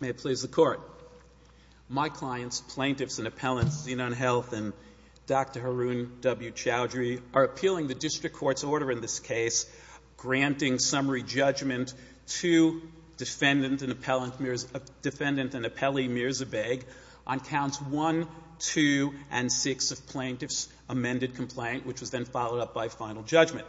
May it please the Court. My clients, plaintiffs and appellants, Zenon Health and Dr. Haroon W. Chowdhury, are appealing the District Court's order in this case granting summary judgment to defendant and appellant defendant and appellee Mirza Baig on counts 1, 2, and 6 of plaintiff's amended complaint, which was then followed up by final judgment.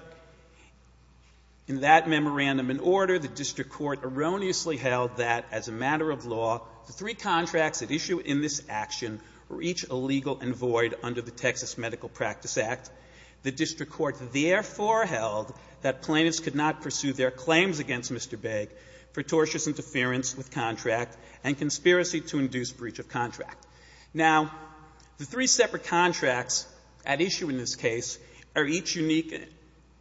In that memorandum and order, the District Court erroneously held that, as a matter of law, the three contracts at issue in this action were each illegal and void under the Texas Medical Practice Act. The District Court therefore held that plaintiffs could not pursue their claims against Mr. Baig for tortious interference with contract and conspiracy to induce breach of contract. Now, the three separate contracts at issue in this case are each unique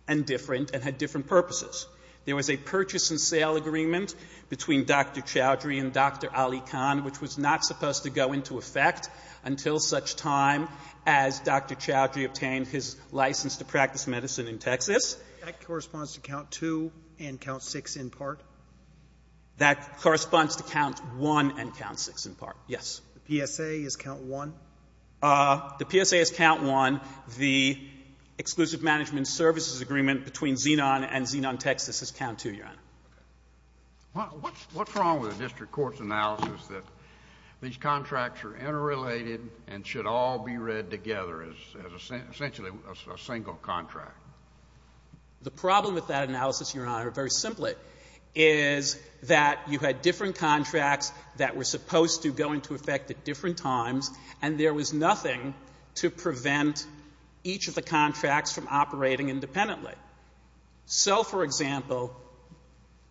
and different and had different purposes. There was a purchase and sale agreement between Dr. Chowdhury and Dr. Ali Khan, which was not supposed to go into effect until such time as Dr. Chowdhury obtained his license to practice medicine in Texas. That corresponds to count 2 and count 6 in part? That corresponds to count 1 and count 6 in part, yes. The PSA is count 1? The PSA is count 1. The exclusive management services agreement between Xenon and Xenon Texas is count 2, Your Honor. Okay. What's wrong with the District Court's analysis that these contracts are interrelated and should all be read together as essentially a single contract? The problem with that analysis, Your Honor, very simply, is that you had different contracts that were supposed to go into effect at different times and there was nothing to prevent each of the contracts from operating independently. So, for example,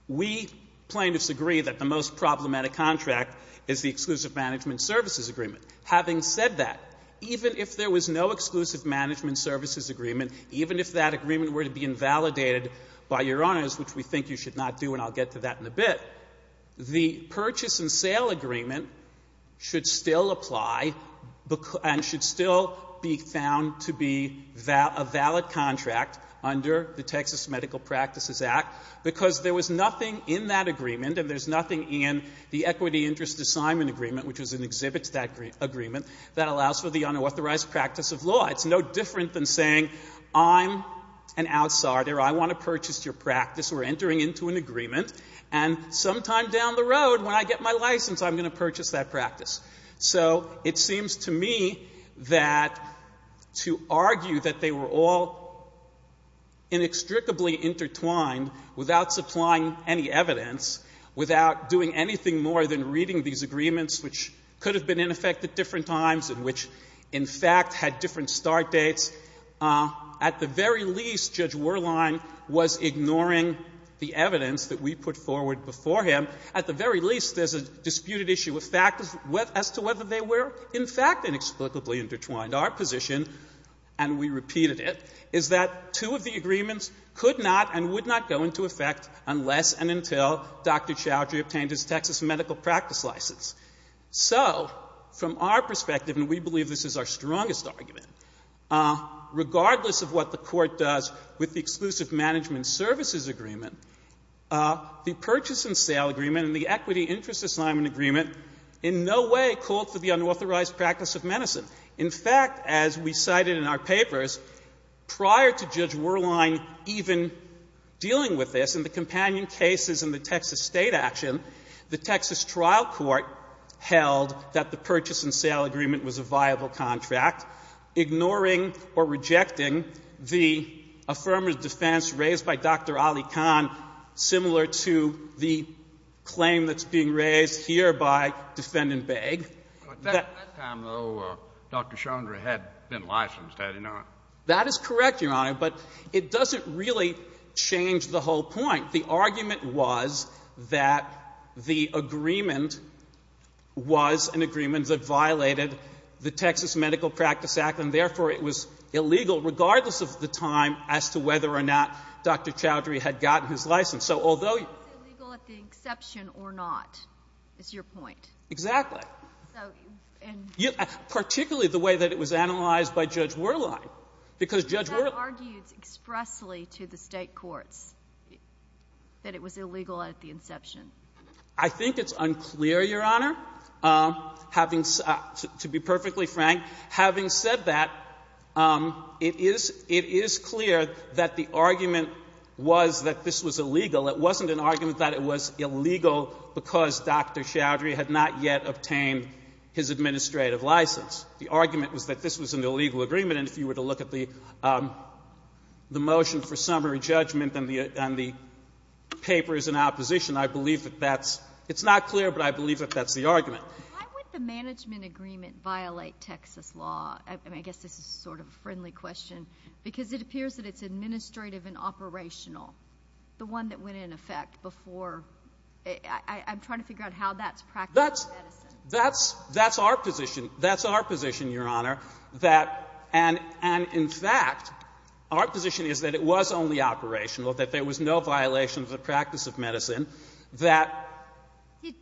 we plaintiffs agree that the most problematic contract is the exclusive management services agreement. Having said that, even if there was no exclusive management services agreement, even if that agreement were to be invalidated by Your Honors, which we think you should not do, and I'll get to that in a bit, the purchase and sale agreement should still apply and should still be found to be a valid contract under the Texas Medical Practices Act because there was nothing in that agreement and there's nothing in the equity interest assignment agreement, which was an exhibits agreement, that allows for the unauthorized practice of law. It's no different than saying, I'm an outsider. I want to purchase your practice. We're entering into an agreement and sometime down the road, when I get my license, I'm going to purchase that practice. So it seems to me that to argue that they were all inextricably intertwined without supplying any evidence, without doing anything more than reading these agreements, which could have been in effect at different times and which, in fact, had different start dates, at the very least, Judge Werlein was ignoring the evidence that we put forward before him. At the very least, there's a disputed issue of fact as to whether they were, in fact, inexplicably intertwined. Our position, and we repeated it, is that two of the agreements could not and would not go into effect unless and until Dr. Chowdhury obtained his Texas medical practice license. So from our perspective, and we believe this is our strongest and strongest argument, regardless of what the Court does with the exclusive management services agreement, the purchase and sale agreement and the equity interest assignment agreement in no way called for the unauthorized practice of medicine. In fact, as we cited in our papers, prior to Judge Werlein even dealing with this in the companion cases and the Texas State action, the Texas trial court held that the purchase and sale agreement was a viable contract, ignoring or rejecting the affirmative defense raised by Dr. Ali Khan, similar to the claim that's being raised here by Defendant Baig. But that time, though, Dr. Chowdhury had been licensed, had he not? That is correct, Your Honor, but it doesn't really change the whole point. The argument was that the agreement was an agreement that violated the Texas Medical Practice Act, and therefore it was illegal, regardless of the time as to whether or not Dr. Chowdhury had gotten his license. So although you — But it's illegal at the exception or not, is your point? Exactly. So — Particularly the way that it was analyzed by Judge Werlein, because Judge — He argued expressly to the State courts that it was illegal at the inception. I think it's unclear, Your Honor. Having — to be perfectly frank, having said that, it is — it is clear that the argument was that this was illegal. It wasn't an argument that it was illegal because Dr. Chowdhury had not yet obtained his administrative license. The argument was that this was an illegal agreement, and if you were to look at the motion for summary judgment and the papers in opposition, I believe that that's — it's not clear, but I believe that that's the argument. Why would the management agreement violate Texas law? I mean, I guess this is sort of a friendly question, because it appears that it's administrative and operational, the one that went into effect before — I'm trying to figure out how that's practical in Edison. That's — that's our position. That's our position, Your Honor, that — and in fact, our position is that it was only operational, that there was no violation of the practice of medicine, that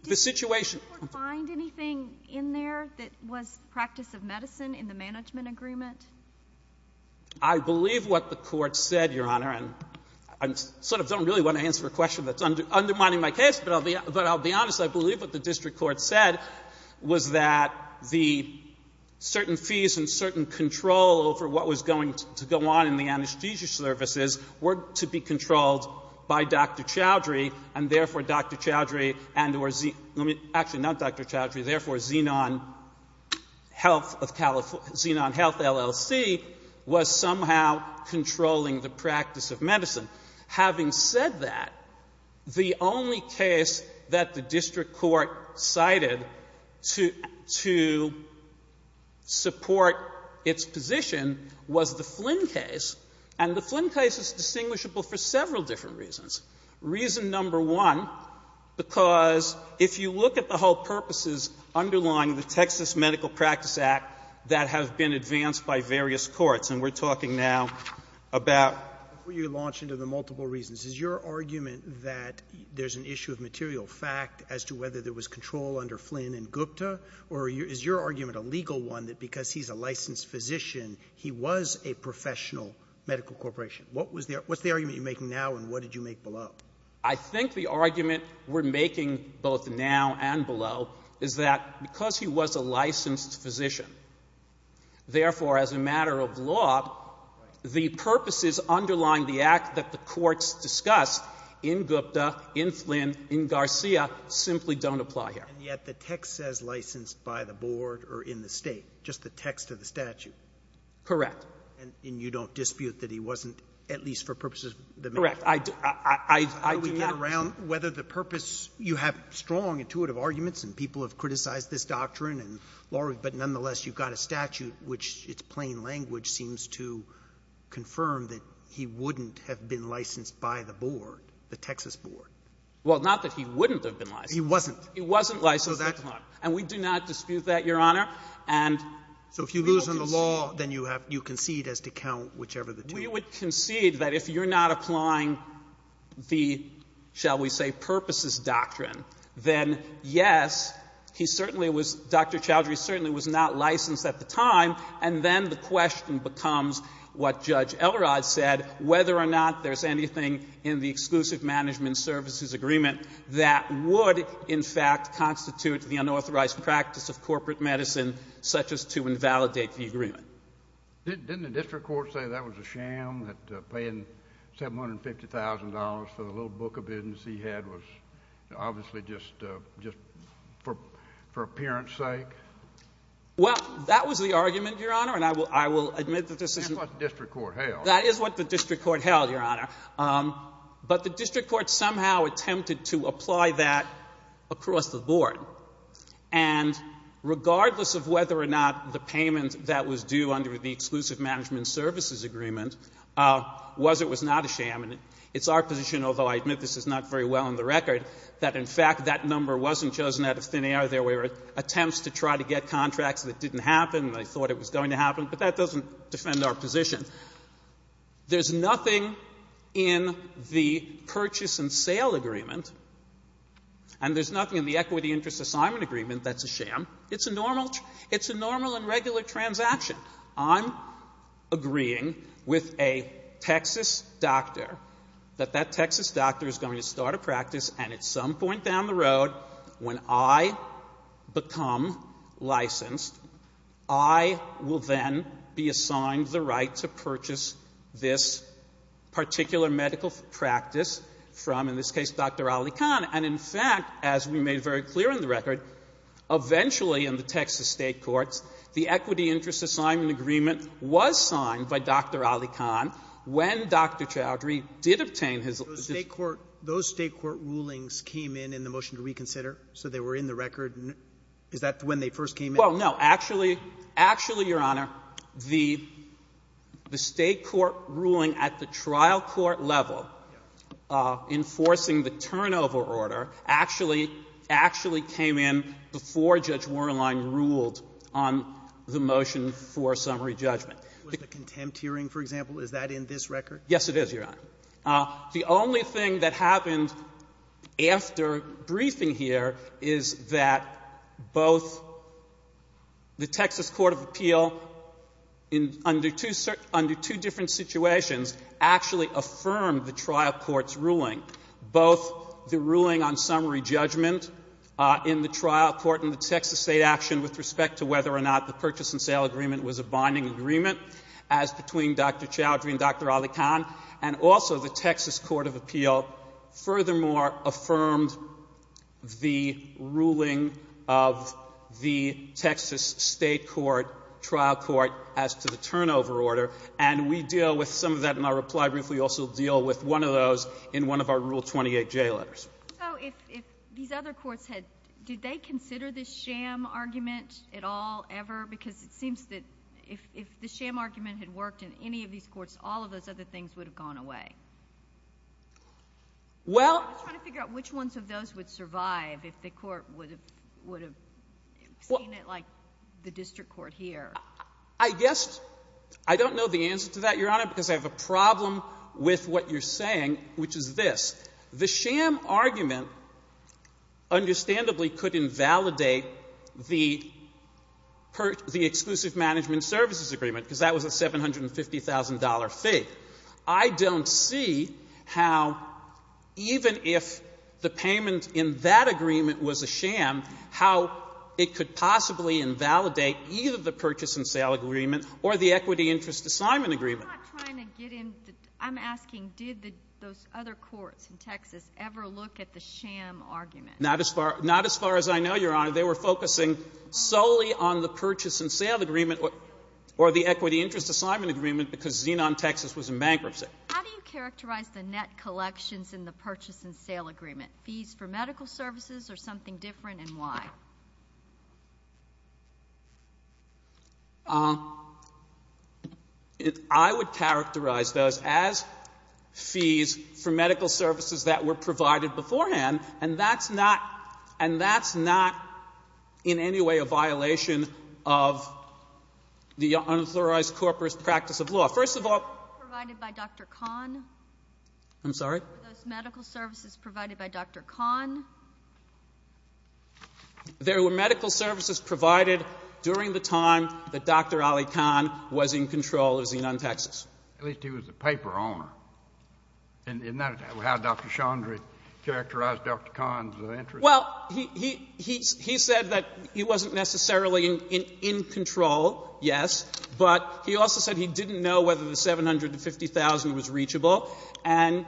the situation — Did the court find anything in there that was practice of medicine in the management agreement? I believe what the Court said, Your Honor, and I sort of don't really want to answer a question that's undermining my case, but I'll be — but I'll be honest, I believe what the district court said was that the certain fees and certain control over what was going to go on in the anesthesia services were to be controlled by Dr. Chowdhury, and therefore Dr. Chowdhury and or — let me — actually, not Dr. Chowdhury, therefore Xenon Health of — Xenon Health, LLC, was somehow controlling the practice of medicine. Having said that, the only case that the district court cited to — to support its position was the Flynn case, and the Flynn case is distinguishable for several different reasons. Reason number one, because if you look at the whole purposes underlying the Texas Medical Practice Act that have been advanced by various courts and we're talking now about — Before you launch into the multiple reasons, is your argument that there's an issue of material fact as to whether there was control under Flynn and Gupta, or is your argument a legal one, that because he's a licensed physician, he was a professional medical corporation? What was the — what's the argument you're making now and what did you make below? I think the argument we're making both now and below is that because he was a licensed physician, therefore, as a matter of law, the purposes underlying the act that the courts discussed in Gupta, in Flynn, in Garcia, simply don't apply here. And yet the text says licensed by the board or in the State, just the text of the statute. Correct. And you don't dispute that he wasn't, at least for purposes of the medical practice? Correct. I — I — I do not — How do we get around whether the purpose — you have strong, intuitive arguments and people have criticized this doctrine and law — but nonetheless, you've got a statute which, it's plain language, seems to confirm that he wouldn't have been licensed by the board, the Texas board. Well, not that he wouldn't have been licensed. He wasn't. He wasn't licensed, Your Honor. And we do not dispute that, Your Honor. And we will concede — So if you lose on the law, then you have — you concede as to count whichever the two — We would concede that if you're not applying the, shall we say, purposes doctrine, then, yes, he certainly was — Dr. Chowdhury certainly was not licensed at the time, and then the question becomes what Judge Elrod said, whether or not there's anything in the exclusive management services agreement that would, in fact, constitute the unauthorized practice of corporate medicine, such as to invalidate the agreement. Didn't the district court say that was a sham, that paying $750,000 for the little book of business he had was obviously just for appearance sake? Well, that was the argument, Your Honor, and I will admit that this is — That's what the district court held. That is what the district court held, Your Honor. But the district court somehow attempted to apply that across the board. And regardless of whether or not the payment that was due under the exclusive management services agreement was or was not a sham — and it's our position, although I admit this is not very well on the record, that in fact that number wasn't chosen out of thin air. There were attempts to try to get contracts that didn't happen. They thought it was going to happen. But that doesn't defend our position. There's nothing in the purchase and sale agreement, and there's nothing in the equity interest assignment agreement that's a sham. It's a normal — it's a normal and regular transaction. I'm agreeing with a Texas doctor that that Texas doctor is going to start a practice, and at some point down the road, when I become licensed, I will then be assigned the right to purchase this particular medical practice from, in this case, Dr. Ali Khan. And, in fact, as we made very clear in the record, eventually in the Texas state courts, the equity interest assignment agreement was signed by Dr. Ali Khan when Dr. Chowdhury did obtain his license. Roberts. Those state court rulings came in in the motion to reconsider? So they were in the record? Is that when they first came in? Well, no. Actually, Your Honor, the state court ruling at the trial court level enforcing the turnover order actually — actually came in before Judge Werlein ruled on the motion for summary judgment. Was it a contempt hearing, for example? Is that in this record? Yes, it is, Your Honor. The only thing that happened after briefing here is that both the Texas court of appeal in — under two different situations actually affirmed the trial court's ruling. Both the ruling on summary judgment in the trial court in the Texas state action with respect to whether or not the purchase and sale agreement was a binding agreement, as between Dr. Chowdhury and Dr. Ali Khan, and also the Texas court of appeal furthermore affirmed the ruling of the Texas state court, trial court as to the turnover order. And we deal with some of that in our reply brief. We also deal with one of those in one of our Rule 28J letters. So if these other courts had — did they consider this sham argument at all, ever? Because it seems that if the sham argument had worked in any of these courts, all of those other things would have gone away. Well — I'm just trying to figure out which ones of those would survive if the court would have seen it like the district court here. I guess — I don't know the answer to that, Your Honor, because I have a problem with what you're saying, which is this. The sham argument understandably could invalidate the — the exclusive management services agreement, because that was a $750,000 fee. I don't see how, even if the payment in that agreement was a sham, how it could possibly invalidate either the purchase and sale agreement or the exclusive purchase and sale agreement or the equity interest assignment agreement. I'm not trying to get into — I'm asking, did the — those other courts in Texas ever look at the sham argument? Not as far — not as far as I know, Your Honor. They were focusing solely on the purchase and sale agreement or the equity interest assignment agreement, because Zenon, Texas, was in bankruptcy. How do you characterize the net collections in the purchase and sale agreement? Fees for medical services or something different, and why? I would characterize those as fees for medical services that were provided beforehand, and that's not — and that's not in any way a violation of the unauthorized corporate practice of law. First of all — For those provided by Dr. Kahn? I'm sorry? For those medical services provided by Dr. Kahn? There were medical services provided during the time that Dr. Ali Kahn was in control of Zenon, Texas. At least he was the paper owner. Isn't that how Dr. Chaudry characterized Dr. Kahn's interest? Well, he — he said that he wasn't necessarily in control, yes, but he also said he didn't know whether the $750,000 was reachable. And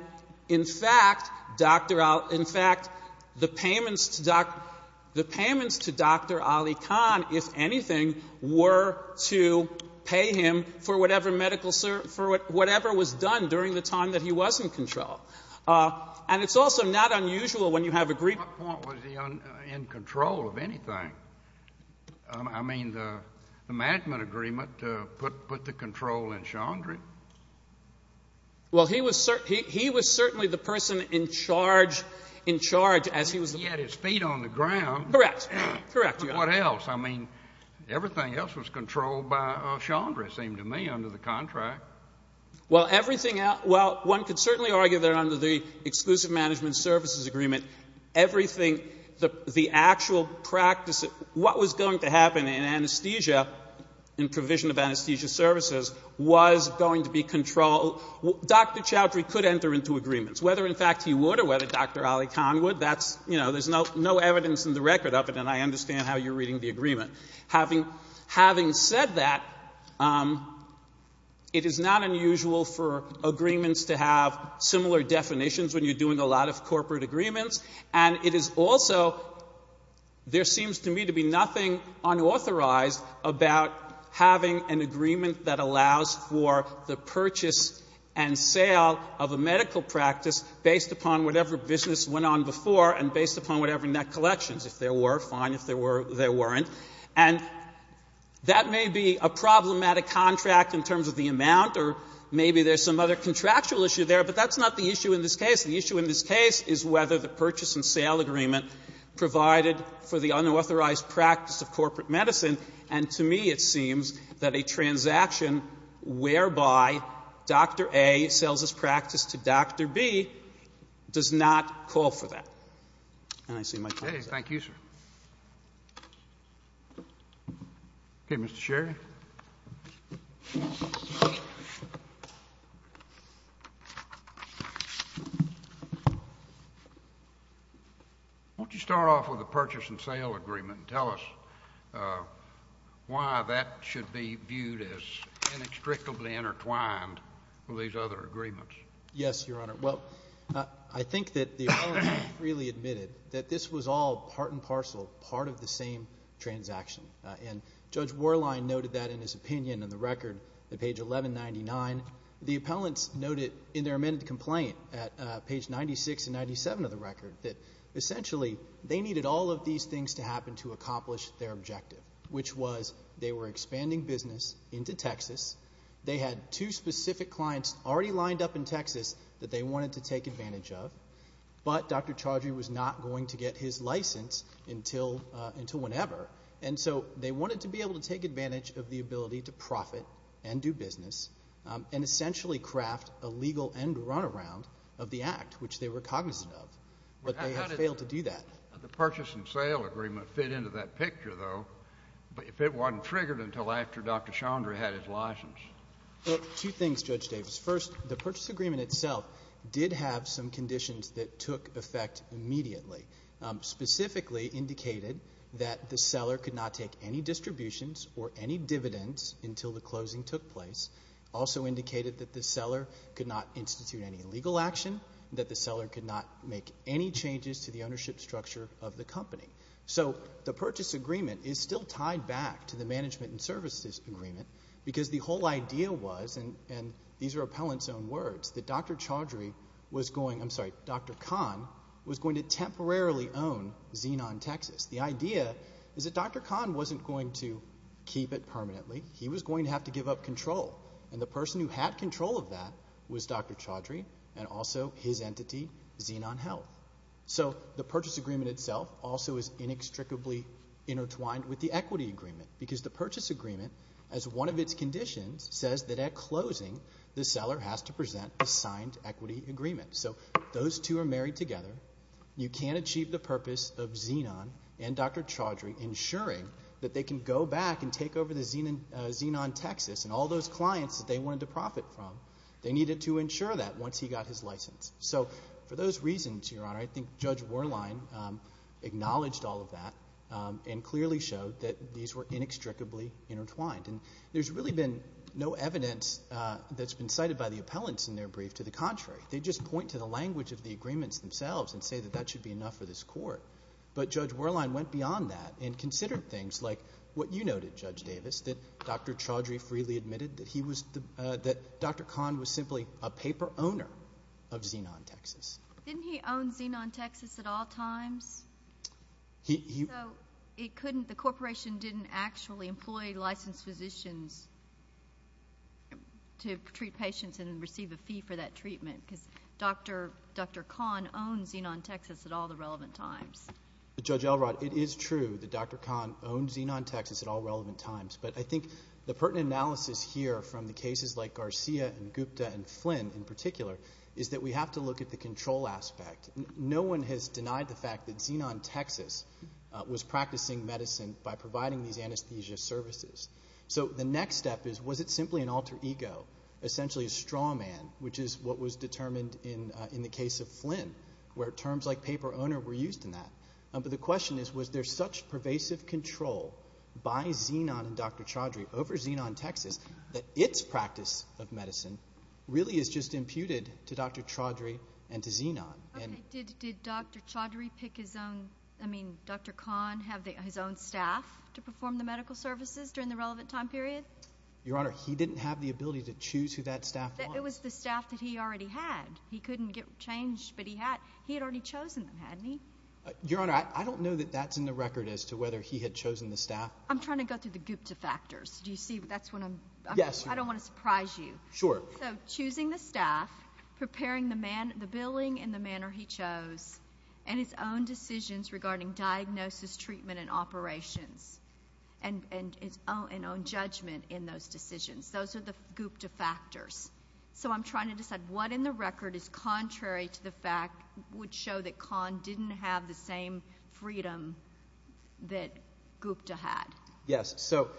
in fact, Dr. — in fact, Dr. Ali Kahn — the payments to — the payments to Dr. Ali Kahn, if anything, were to pay him for whatever medical — for whatever was done during the time that he was in control. And it's also not unusual when you have a — At what point was he in control of anything? I mean, the — the management agreement put — put the control in Chaudry? Well, he was — he was certainly the person in charge — in charge as he was — He had his feet on the ground. Correct. Correct, Your Honor. What else? I mean, everything else was controlled by Chaudry, it seemed to me, under the contract. Well, everything else — well, one could certainly argue that under the exclusive management services agreement, everything — the actual practice — what was going to happen in anesthesia — in provision of anesthesia services was going to be controlled. Dr. Chaudry could enter into agreements, whether in fact he would or whether Dr. Ali Kahn would. That's — you know, there's no evidence in the record of it, and I understand how you're reading the agreement. Having — having said that, it is not unusual for agreements to have similar definitions when you're doing a lot of corporate agreements. And it is also — there seems to me to be nothing unauthorized about having an agreement that allows for the purchase and sale of a medical practice based upon whatever business went on before and based upon whatever net collections. If there were, fine. If there were, there weren't. And that may be a problematic contract in terms of the amount, or maybe there's some other contractual issue there, but that's not the issue in this case. The issue in this case is whether the purchase and sale agreement provided for the unauthorized practice of corporate medicine. And to me it seems that a transaction whereby Dr. A sells his practice to Dr. B does not call for that. And I see my time is up. Roberts. Okay, Mr. Sherry. Why don't you start off with the purchase and sale agreement and tell us why that should be viewed as inextricably intertwined with these other agreements. Yes, Your Honor. Well, I think that the appellant freely admitted that this was all part and parcel, part of the same transaction. And Judge Warline noted that in his opinion in the record at page 1199. The appellants noted in their amended complaint at page 96 and 97 of the record that essentially they needed all of these things to happen to accomplish their objective, which was they were expanding business into Texas. They had two specific clients already lined up in Texas that they wanted to take advantage of. But Dr. Chaudry was not going to get his license until whenever. And so they wanted to be able to take advantage of the ability to profit and do business and essentially craft a legal end runaround of the act, which they were cognizant of. But they had failed to do that. How did the purchase and sale agreement fit into that picture, though, if it wasn't triggered until after Dr. Chaudry had his license? Well, two things, Judge Davis. First, the purchase agreement itself did have some conditions that took effect immediately, specifically indicated that the seller could not take any distributions or any dividends until the closing took place. Also indicated that the seller could not institute any legal action, that the seller could not make any changes to the ownership structure of the company. So the purchase agreement is still tied back to the management and services agreement because the whole idea was, and these are appellants' own words, that Dr. Chaudry was going, I'm sorry, Dr. Kahn was going to temporarily own Xenon Texas. The idea is that Dr. Kahn wasn't going to keep it permanently. He was going to have to give up control. And the person who had control of that was Dr. Chaudry and also his entity, Xenon Health. So the purchase agreement itself also is inextricably intertwined with the equity agreement because the purchase agreement, as one of its conditions, says that at closing the seller has to present a signed equity agreement. So those two are married together. You can't achieve the purpose of Xenon and Dr. Chaudry ensuring that they can go back and take over the Xenon Texas and all those clients that they wanted to profit from. They needed to ensure that once he got his license. So for those reasons, Your Honor, I think Judge Werlein acknowledged all of that and clearly showed that these were inextricably intertwined. And there's really been no evidence that's been cited by the appellants in their brief to the contrary. They just point to the language of the agreements themselves and say that that should be enough for this court. But Judge Werlein went beyond that and considered things like what you noted, Judge Davis, that Dr. Chaudry freely admitted that Dr. Kahn was simply a paper owner of Xenon Texas. Didn't he own Xenon Texas at all times? So the corporation didn't actually employ licensed physicians to treat patients and receive a fee for that treatment because Dr. Kahn owned Xenon Texas at all the relevant times. Judge Elrod, it is true that Dr. Kahn owned Xenon Texas at all relevant times, but I think the pertinent analysis here from the cases like Garcia and Gupta and Flynn in particular is that we have to look at the control aspect. No one has denied the fact that Xenon Texas was practicing medicine by providing these anesthesia services. So the next step is was it simply an alter ego, essentially a straw man, which is what was determined in the case of Flynn where terms like paper owner were used in that. But the question is was there such pervasive control by Xenon and Dr. Chaudry over Xenon Texas that its practice of medicine really is just imputed to Dr. Chaudry and to Xenon? Okay, did Dr. Chaudry pick his own, I mean Dr. Kahn have his own staff to perform the medical services during the relevant time period? Your Honor, he didn't have the ability to choose who that staff was. It was the staff that he already had. He couldn't get changed, but he had already chosen them, hadn't he? Your Honor, I don't know that that's in the record as to whether he had chosen the staff. I'm trying to go through the Gupta factors. Do you see that's when I'm, I don't want to surprise you. Sure. So choosing the staff, preparing the billing in the manner he chose, and his own decisions regarding diagnosis, treatment, and operations, and his own judgment in those decisions. Those are the Gupta factors. So I'm trying to decide what in the record is contrary to the fact, would show that Kahn didn't have the same freedom that Gupta had. Yes, so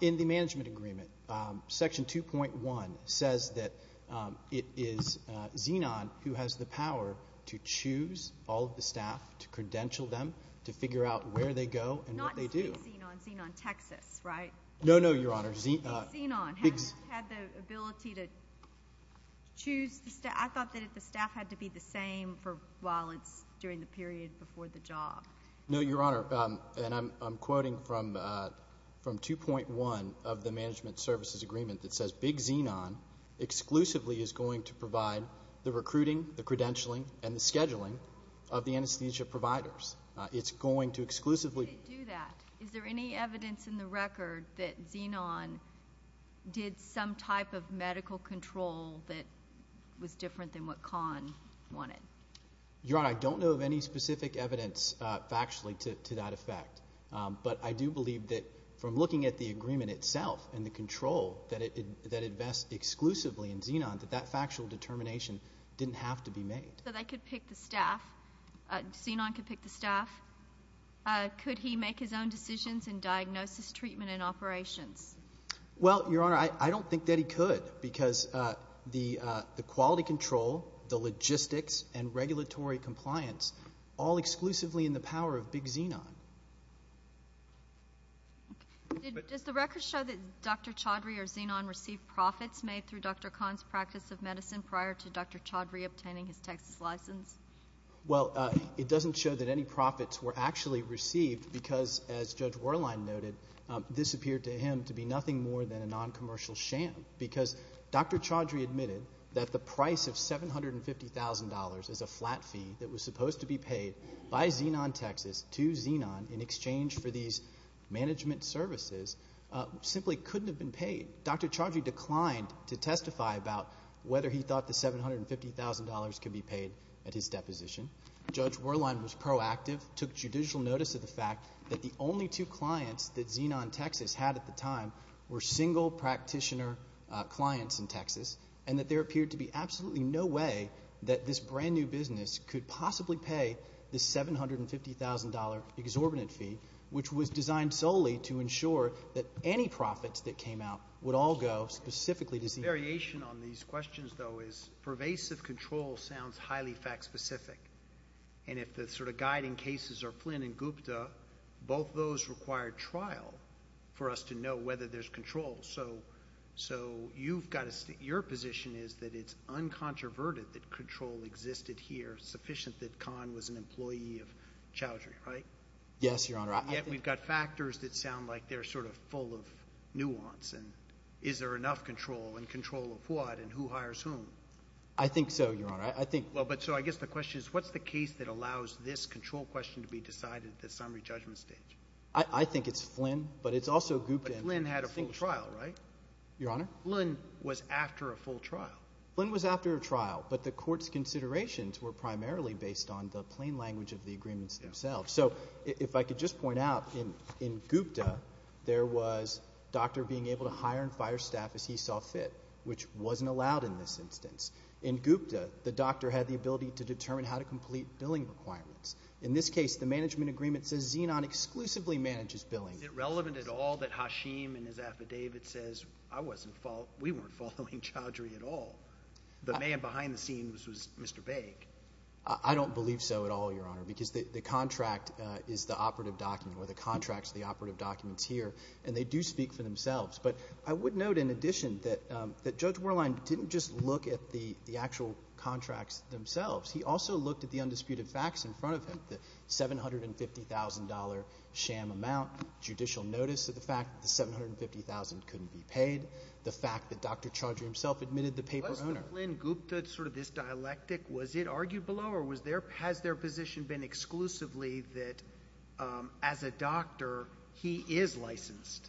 in the management agreement, Section 2.1 says that it is Xenon who has the power to choose all of the staff, to credential them, to figure out where they go and what they do. Not to say Xenon, Xenon Texas, right? No, no, Your Honor. Xenon, hadn't he had the ability to choose the staff? I thought that the staff had to be the same while it's during the period before the job. No, Your Honor, and I'm quoting from 2.1 of the management services agreement that says big Xenon exclusively is going to provide the recruiting, the credentialing, and the scheduling of the anesthesia providers. It's going to exclusively do that. Is there any evidence in the record that Xenon did some type of medical control that was different than what Kahn wanted? Your Honor, I don't know of any specific evidence factually to that effect, but I do believe that from looking at the agreement itself and the control that invests exclusively in Xenon, that that factual determination didn't have to be made. So they could pick the staff, Xenon could pick the staff. Could he make his own decisions in diagnosis, treatment, and operations? Well, Your Honor, I don't think that he could because the quality control, the logistics, and regulatory compliance all exclusively in the power of big Xenon. Does the record show that Dr. Chaudhry or Xenon received profits made through Dr. Kahn's practice of medicine prior to Dr. Chaudhry obtaining his Texas license? Well, it doesn't show that any profits were actually received because, as Judge Werlein noted, this appeared to him to be nothing more than a noncommercial sham because Dr. Chaudhry admitted that the price of $750,000 as a flat fee that was supposed to be paid by Xenon Texas to Xenon in exchange for these management services simply couldn't have been paid. Dr. Chaudhry declined to testify about whether he thought the $750,000 could be paid at his deposition. Judge Werlein was proactive, took judicial notice of the fact that the only two clients that Xenon Texas had at the time were single practitioner clients in Texas and that there appeared to be absolutely no way that this brand-new business could possibly pay the $750,000 exorbitant fee, which was designed solely to ensure that any profits that came out would all go specifically to Xenon. The variation on these questions, though, is pervasive control sounds highly fact-specific. And if the sort of guiding cases are Flynn and Gupta, both those require trial for us to know whether there's control. So your position is that it's uncontroverted that control existed here, sufficient that Kahn was an employee of Chaudhry, right? Yes, Your Honor. Yet we've got factors that sound like they're sort of full of nuance. Is there enough control, and control of what, and who hires whom? I think so, Your Honor. So I guess the question is what's the case that allows this control question to be decided at the summary judgment stage? I think it's Flynn, but it's also Gupta. But Flynn had a full trial, right? Your Honor? Flynn was after a full trial. Flynn was after a trial, but the court's considerations were primarily based on the plain language of the agreements themselves. So if I could just point out, in Gupta there was doctor being able to hire and fire staff as he saw fit, which wasn't allowed in this instance. In Gupta, the doctor had the ability to determine how to complete billing requirements. In this case, the management agreement says Xenon exclusively manages billing. Is it relevant at all that Hashim in his affidavit says we weren't following Chaudhry at all? The man behind the scenes was Mr. Baig. I don't believe so at all, Your Honor, because the contract is the operative document, or the contract's the operative documents here, and they do speak for themselves. But I would note in addition that Judge Werlein didn't just look at the actual contracts themselves. He also looked at the undisputed facts in front of him, the $750,000 sham amount, judicial notice of the fact that the $750,000 couldn't be paid, the fact that Dr. Chaudhry himself admitted the paper owner. Was the Flynn-Gupta sort of this dialectic? Was it argued below or has their position been exclusively that as a doctor he is licensed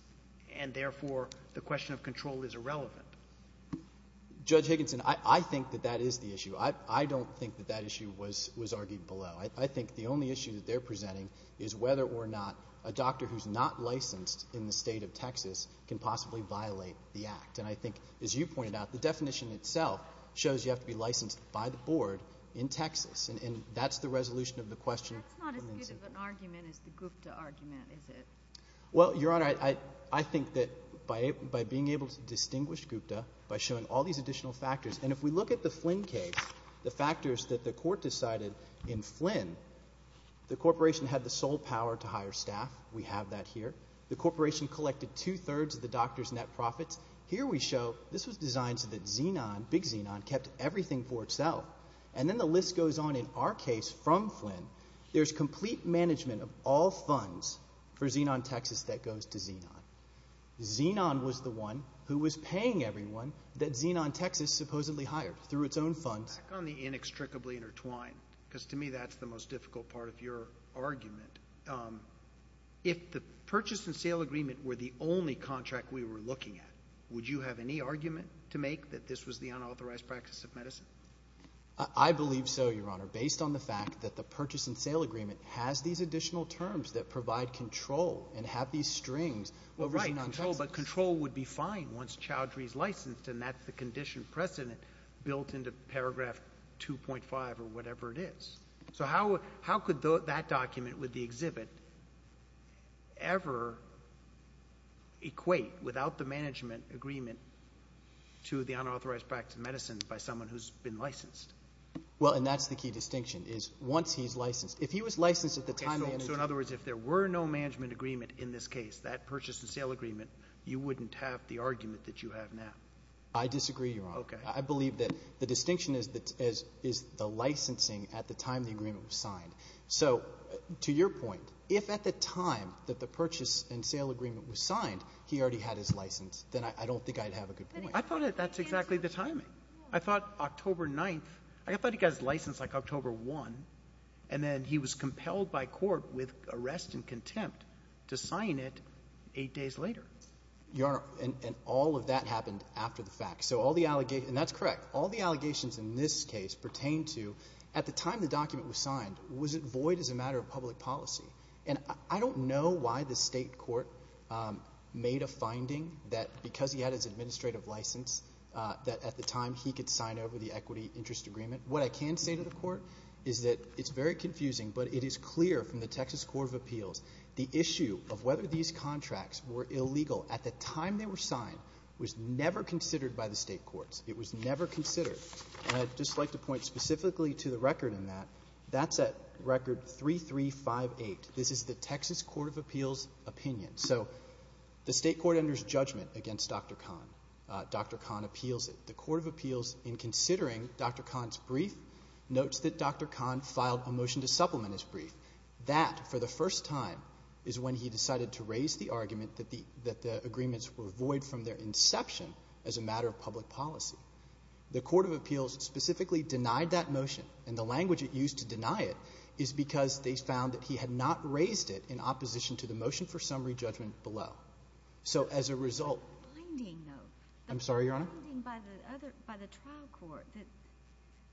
and therefore the question of control is irrelevant? Judge Higginson, I think that that is the issue. I don't think that that issue was argued below. I think the only issue that they're presenting is whether or not a doctor who's not licensed in the State of Texas can possibly violate the act. And I think, as you pointed out, the definition itself shows you have to be licensed by the board in Texas, and that's the resolution of the question. That's not as good of an argument as the Gupta argument, is it? Well, Your Honor, I think that by being able to distinguish Gupta by showing all these additional factors and if we look at the Flynn case, the factors that the court decided in Flynn, the corporation had the sole power to hire staff. We have that here. The corporation collected two-thirds of the doctor's net profits. Here we show this was designed so that Xenon, Big Xenon, kept everything for itself. And then the list goes on in our case from Flynn. There's complete management of all funds for Xenon Texas that goes to Xenon. Xenon was the one who was paying everyone that Xenon Texas supposedly hired through its own funds. Back on the inextricably intertwined, because to me that's the most difficult part of your argument. If the purchase and sale agreement were the only contract we were looking at, would you have any argument to make that this was the unauthorized practice of medicine? I believe so, Your Honor, based on the fact that the purchase and sale agreement has these additional terms that provide control and have these strings over Xenon Texas. Well, right, but control would be fine once child free is licensed, and that's the condition precedent built into paragraph 2.5 or whatever it is. So how could that document with the exhibit ever equate, without the management agreement, to the unauthorized practice of medicine by someone who's been licensed? Well, and that's the key distinction, is once he's licensed. If he was licensed at the time management— Okay, so in other words, if there were no management agreement in this case, that purchase and sale agreement, you wouldn't have the argument that you have now. I disagree, Your Honor. I believe that the distinction is the licensing at the time the agreement was signed. So to your point, if at the time that the purchase and sale agreement was signed, he already had his license, then I don't think I'd have a good point. I thought that that's exactly the timing. I thought October 9th—I thought he got his license, like, October 1, and then he was compelled by court with arrest and contempt to sign it eight days later. Your Honor, and all of that happened after the fact. So all the allegations—and that's correct—all the allegations in this case pertain to at the time the document was signed, was it void as a matter of public policy? And I don't know why the State court made a finding that because he had his administrative license, that at the time he could sign over the equity interest agreement. What I can say to the court is that it's very confusing, but it is clear from the Texas Court of Appeals the issue of whether these contracts were illegal at the time they were signed was never considered by the State courts. It was never considered. And I'd just like to point specifically to the record in that. That's at record 3358. This is the Texas Court of Appeals opinion. So the State court enters judgment against Dr. Kahn. Dr. Kahn appeals it. The Court of Appeals, in considering Dr. Kahn's brief, notes that Dr. Kahn filed a motion to supplement his brief. That, for the first time, is when he decided to raise the argument that the agreements were void from their inception as a matter of public policy. The Court of Appeals specifically denied that motion, and the language it used to deny it is because they found that he had not raised it in opposition to the motion for summary judgment below. So as a result of the finding by the trial court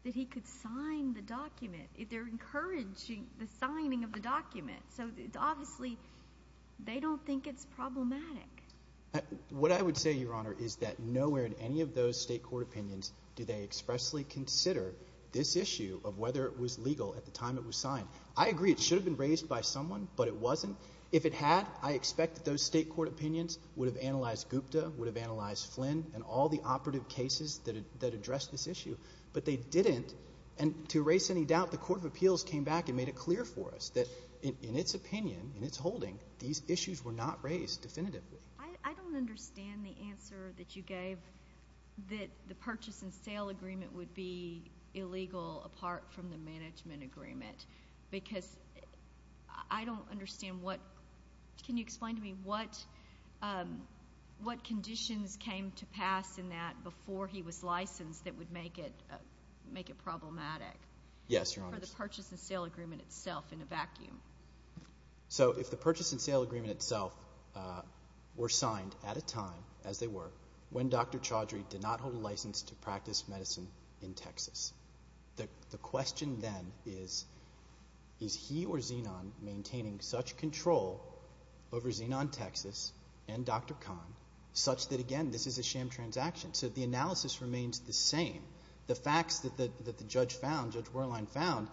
that he could sign the document, they're encouraging the signing of the document. So obviously they don't think it's problematic. What I would say, Your Honor, is that nowhere in any of those State court opinions do they expressly consider this issue of whether it was legal at the time it was signed. I agree it should have been raised by someone, but it wasn't. If it had, I expect that those State court opinions would have analyzed Gupta, would have analyzed Flynn, and all the operative cases that address this issue. But they didn't, and to erase any doubt, the Court of Appeals came back and made it clear for us that in its opinion, in its holding, these issues were not raised definitively. I don't understand the answer that you gave, that the purchase and sale agreement would be illegal apart from the management agreement, because I don't understand what – can you explain to me what conditions came to pass in that before he was licensed that would make it problematic? Yes, Your Honor. For the purchase and sale agreement itself in a vacuum. So if the purchase and sale agreement itself were signed at a time, as they were, when Dr. Chaudhry did not hold a license to practice medicine in Texas, the question then is, is he or Xenon maintaining such control over Xenon Texas and Dr. Khan, such that, again, this is a sham transaction? So the analysis remains the same. The facts that the judge found, Judge Werlein found,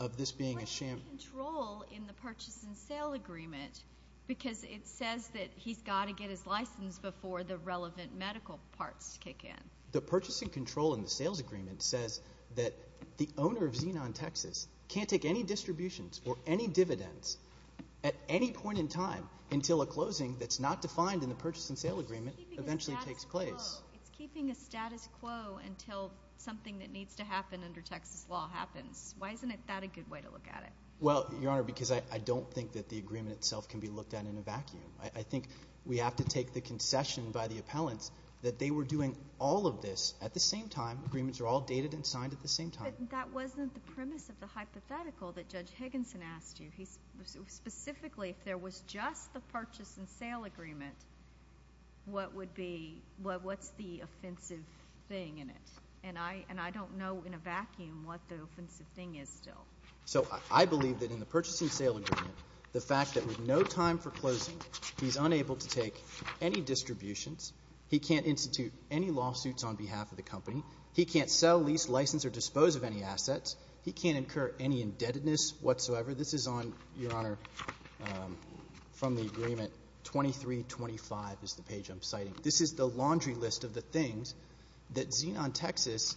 of this being a sham. What's the control in the purchase and sale agreement? Because it says that he's got to get his license before the relevant medical parts kick in. The purchase and control in the sales agreement says that the owner of Xenon Texas until a closing that's not defined in the purchase and sale agreement eventually takes place. It's keeping a status quo until something that needs to happen under Texas law happens. Why isn't that a good way to look at it? Well, Your Honor, because I don't think that the agreement itself can be looked at in a vacuum. I think we have to take the concession by the appellants that they were doing all of this at the same time. Agreements are all dated and signed at the same time. But that wasn't the premise of the hypothetical that Judge Higginson asked you. Specifically, if there was just the purchase and sale agreement, what's the offensive thing in it? And I don't know in a vacuum what the offensive thing is still. So I believe that in the purchase and sale agreement, the fact that with no time for closing, he's unable to take any distributions. He can't institute any lawsuits on behalf of the company. He can't sell, lease, license, or dispose of any assets. He can't incur any indebtedness whatsoever. This is on, Your Honor, from the agreement 2325 is the page I'm citing. This is the laundry list of the things that Xenon Texas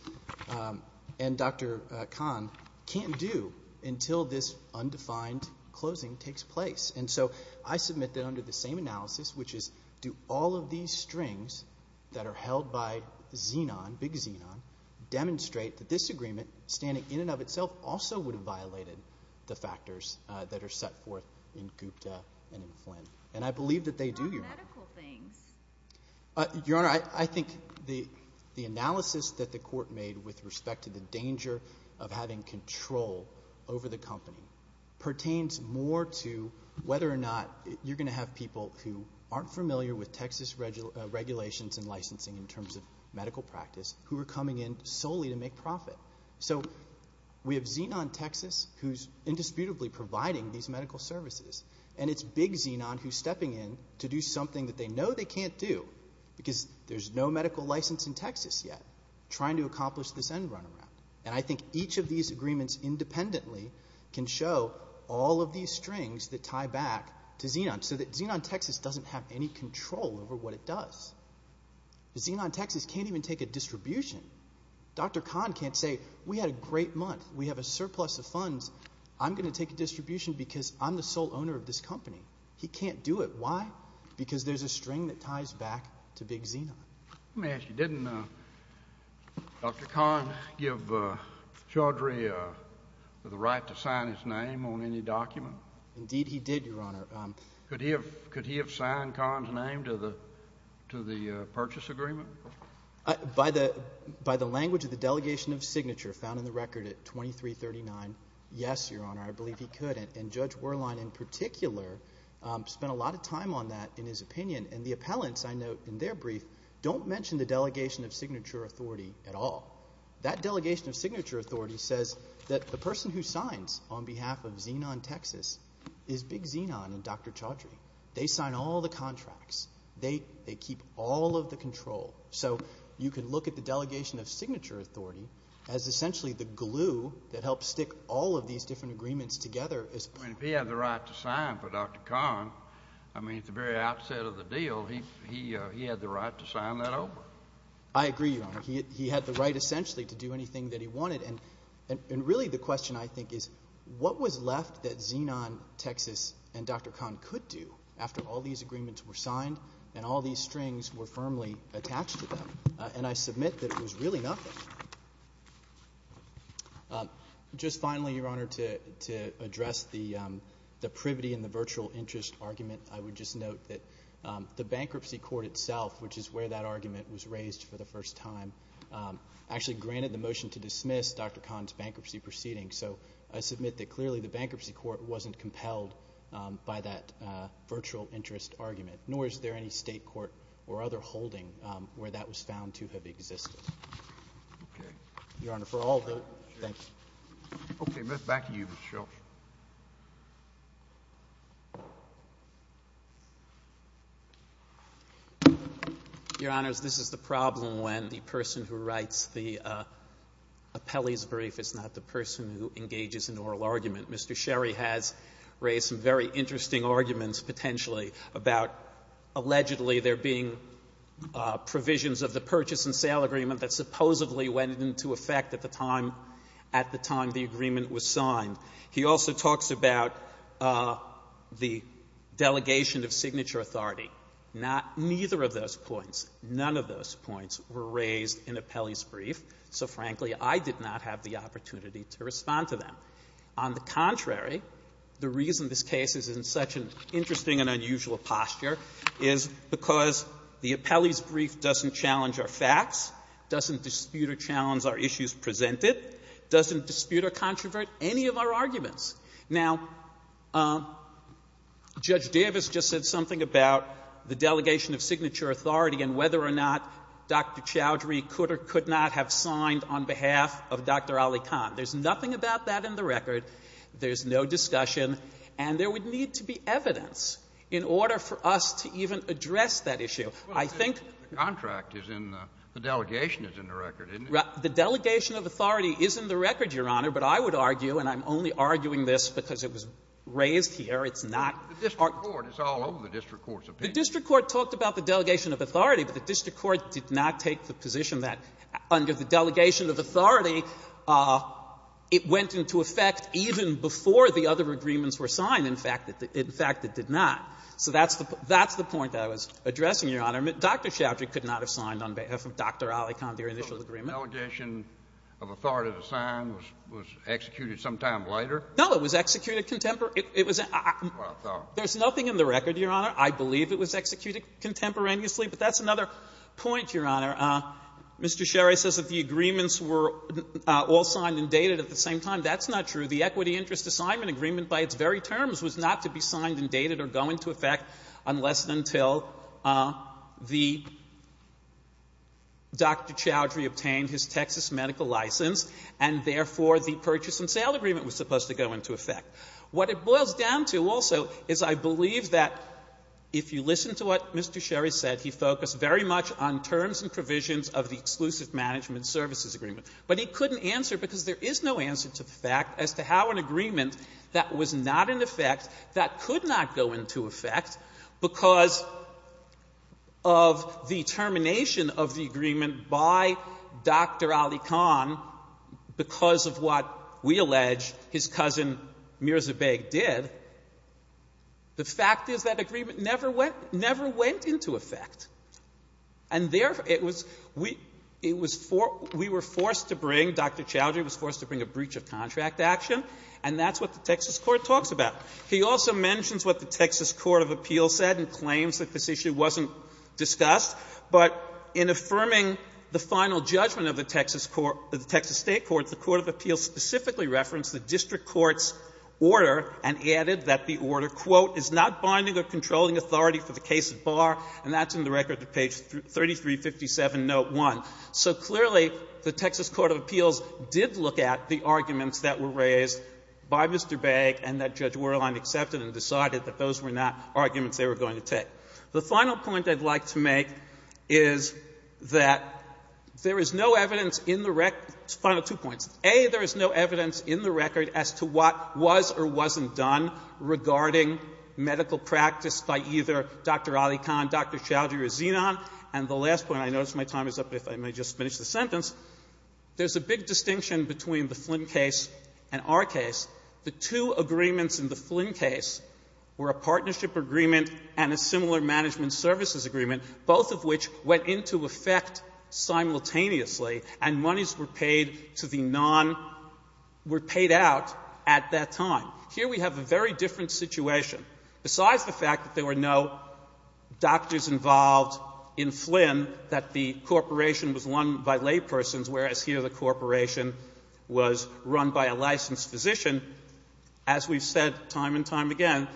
and Dr. Kahn can't do until this undefined closing takes place. And so I submit that under the same analysis, which is do all of these strings that are held by Xenon, big Xenon, demonstrate that this agreement, standing in and of itself, also would have violated the factors that are set forth in Gupta and in Flynn. And I believe that they do, Your Honor. What about medical things? Your Honor, I think the analysis that the Court made with respect to the danger of having control over the company pertains more to whether or not you're going to have people who aren't familiar with Texas regulations and licensing in terms of medical practice who are coming in solely to make profit. So we have Xenon Texas, who's indisputably providing these medical services, and it's big Xenon who's stepping in to do something that they know they can't do because there's no medical license in Texas yet trying to accomplish this end runaround. And I think each of these agreements independently can show all of these strings that tie back to Xenon so that Xenon Texas doesn't have any control over what it does. Xenon Texas can't even take a distribution. Dr. Kahn can't say, We had a great month. We have a surplus of funds. I'm going to take a distribution because I'm the sole owner of this company. He can't do it. Why? Because there's a string that ties back to big Xenon. Let me ask you, didn't Dr. Kahn give Chaudhry the right to sign his name on any document? Indeed he did, Your Honor. Could he have signed Kahn's name to the purchase agreement? By the language of the delegation of signature found in the record at 2339, yes, Your Honor, I believe he could. And Judge Werlein in particular spent a lot of time on that in his opinion. And the appellants, I note in their brief, don't mention the delegation of signature authority at all. That delegation of signature authority says that the person who signs on behalf of Xenon Texas is big Xenon and Dr. Chaudhry. They sign all the contracts. They keep all of the control. So you can look at the delegation of signature authority as essentially the glue that helps stick all of these different agreements together. If he had the right to sign for Dr. Kahn, I mean, at the very outset of the deal, he had the right to sign that over. I agree, Your Honor. He had the right essentially to do anything that he wanted. And really the question, I think, is what was left that Xenon Texas and Dr. Kahn could do after all these agreements were signed and all these strings were firmly attached to them? And I submit that it was really nothing. Just finally, Your Honor, to address the privity and the virtual interest argument, I would just note that the bankruptcy court itself, which is where that argument was raised for the first time, actually granted the motion to dismiss Dr. Kahn's bankruptcy proceeding. So I submit that clearly the bankruptcy court wasn't compelled by that virtual interest argument, nor is there any state court or other holding where that was found to have existed. Okay. Your Honor, for all vote, thanks. Okay. Back to you, Mr. Sherry. Your Honors, this is the problem when the person who writes the appellee's brief is not the person who engages in oral argument. Mr. Sherry has raised some very interesting arguments, potentially, about allegedly there being provisions of the purchase and sale agreement that supposedly went into effect at the time the agreement was signed. He also talks about the delegation of signature authority. Neither of those points, none of those points were raised in appellee's brief. So, frankly, I did not have the opportunity to respond to them. On the contrary, the reason this case is in such an interesting and unusual posture is because the appellee's brief doesn't challenge our facts, doesn't dispute or challenge our issues presented, doesn't dispute or controvert any of our arguments. Now, Judge Davis just said something about the delegation of signature authority and whether or not Dr. Chowdhury could or could not have signed on behalf of Dr. Ali Kahn. There's nothing about that in the record. There's no discussion. And there would need to be evidence in order for us to even address that issue. I think the contract is in the delegation is in the record, isn't it? The delegation of authority is in the record, Your Honor. But I would argue, and I'm only arguing this because it was raised here. It's not our court. It's all over the district court's opinion. The district court talked about the delegation of authority. But the district court did not take the position that under the delegation of authority, it went into effect even before the other agreements were signed. In fact, it did not. So that's the point that I was addressing, Your Honor. Dr. Chowdhury could not have signed on behalf of Dr. Ali Kahn, their initial agreement. Kennedy. So the delegation of authority to sign was executed sometime later? No. It was executed contemporary. There's nothing in the record, Your Honor. I believe it was executed contemporaneously. But that's another point, Your Honor. Mr. Sherry says that the agreements were all signed and dated at the same time. That's not true. The equity interest assignment agreement by its very terms was not to be signed and dated or go into effect unless and until the Dr. Chowdhury obtained his Texas medical license, and therefore, the purchase and sale agreement was supposed to go into effect. What it boils down to also is I believe that if you listen to what Mr. Sherry said, he focused very much on terms and provisions of the exclusive management services agreement, but he couldn't answer because there is no answer to the fact as to how an agreement that was not in effect, that could not go into effect because of the termination of the agreement by Dr. Ali Kahn because of what we allege his cousin Mirza Baig did, the fact is that agreement never went into effect. And therefore, it was we were forced to bring, Dr. Chowdhury was forced to bring a breach of contract action, and that's what the Texas court talks about. He also mentions what the Texas court of appeals said and claims that this issue wasn't discussed, but in affirming the final judgment of the Texas state courts, the court of appeals specifically referenced the district court's order and added that the order, quote, is not binding or controlling authority for the case at bar. And that's in the record at page 3357, note 1. So clearly, the Texas court of appeals did look at the arguments that were raised by Mr. Baig and that Judge Wehrlein accepted and decided that those were not arguments they were going to take. The final point I'd like to make is that there is no evidence in the record. Final two points. A, there is no evidence in the record as to what was or wasn't done regarding medical practice by either Dr. Ali Khan, Dr. Chowdhury, or Zenon. And the last point, I notice my time is up, if I may just finish the sentence. There's a big distinction between the Flynn case and our case. The two agreements in the Flynn case were a partnership agreement and a similar management services agreement, both of which went into effect simultaneously and monies were paid to the non — were paid out at that time. Here we have a very different situation. Besides the fact that there were no doctors involved in Flynn, that the corporation was run by laypersons, whereas here the corporation was run by a licensed physician, as we've said time and time again,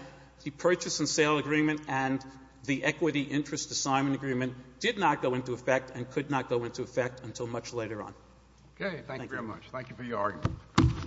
the purchase and sale agreement and the equity interest assignment agreement did not go into effect and could not go into effect until much later on. Thank you. Kennedy. Thank you very much. Thank you for your argument.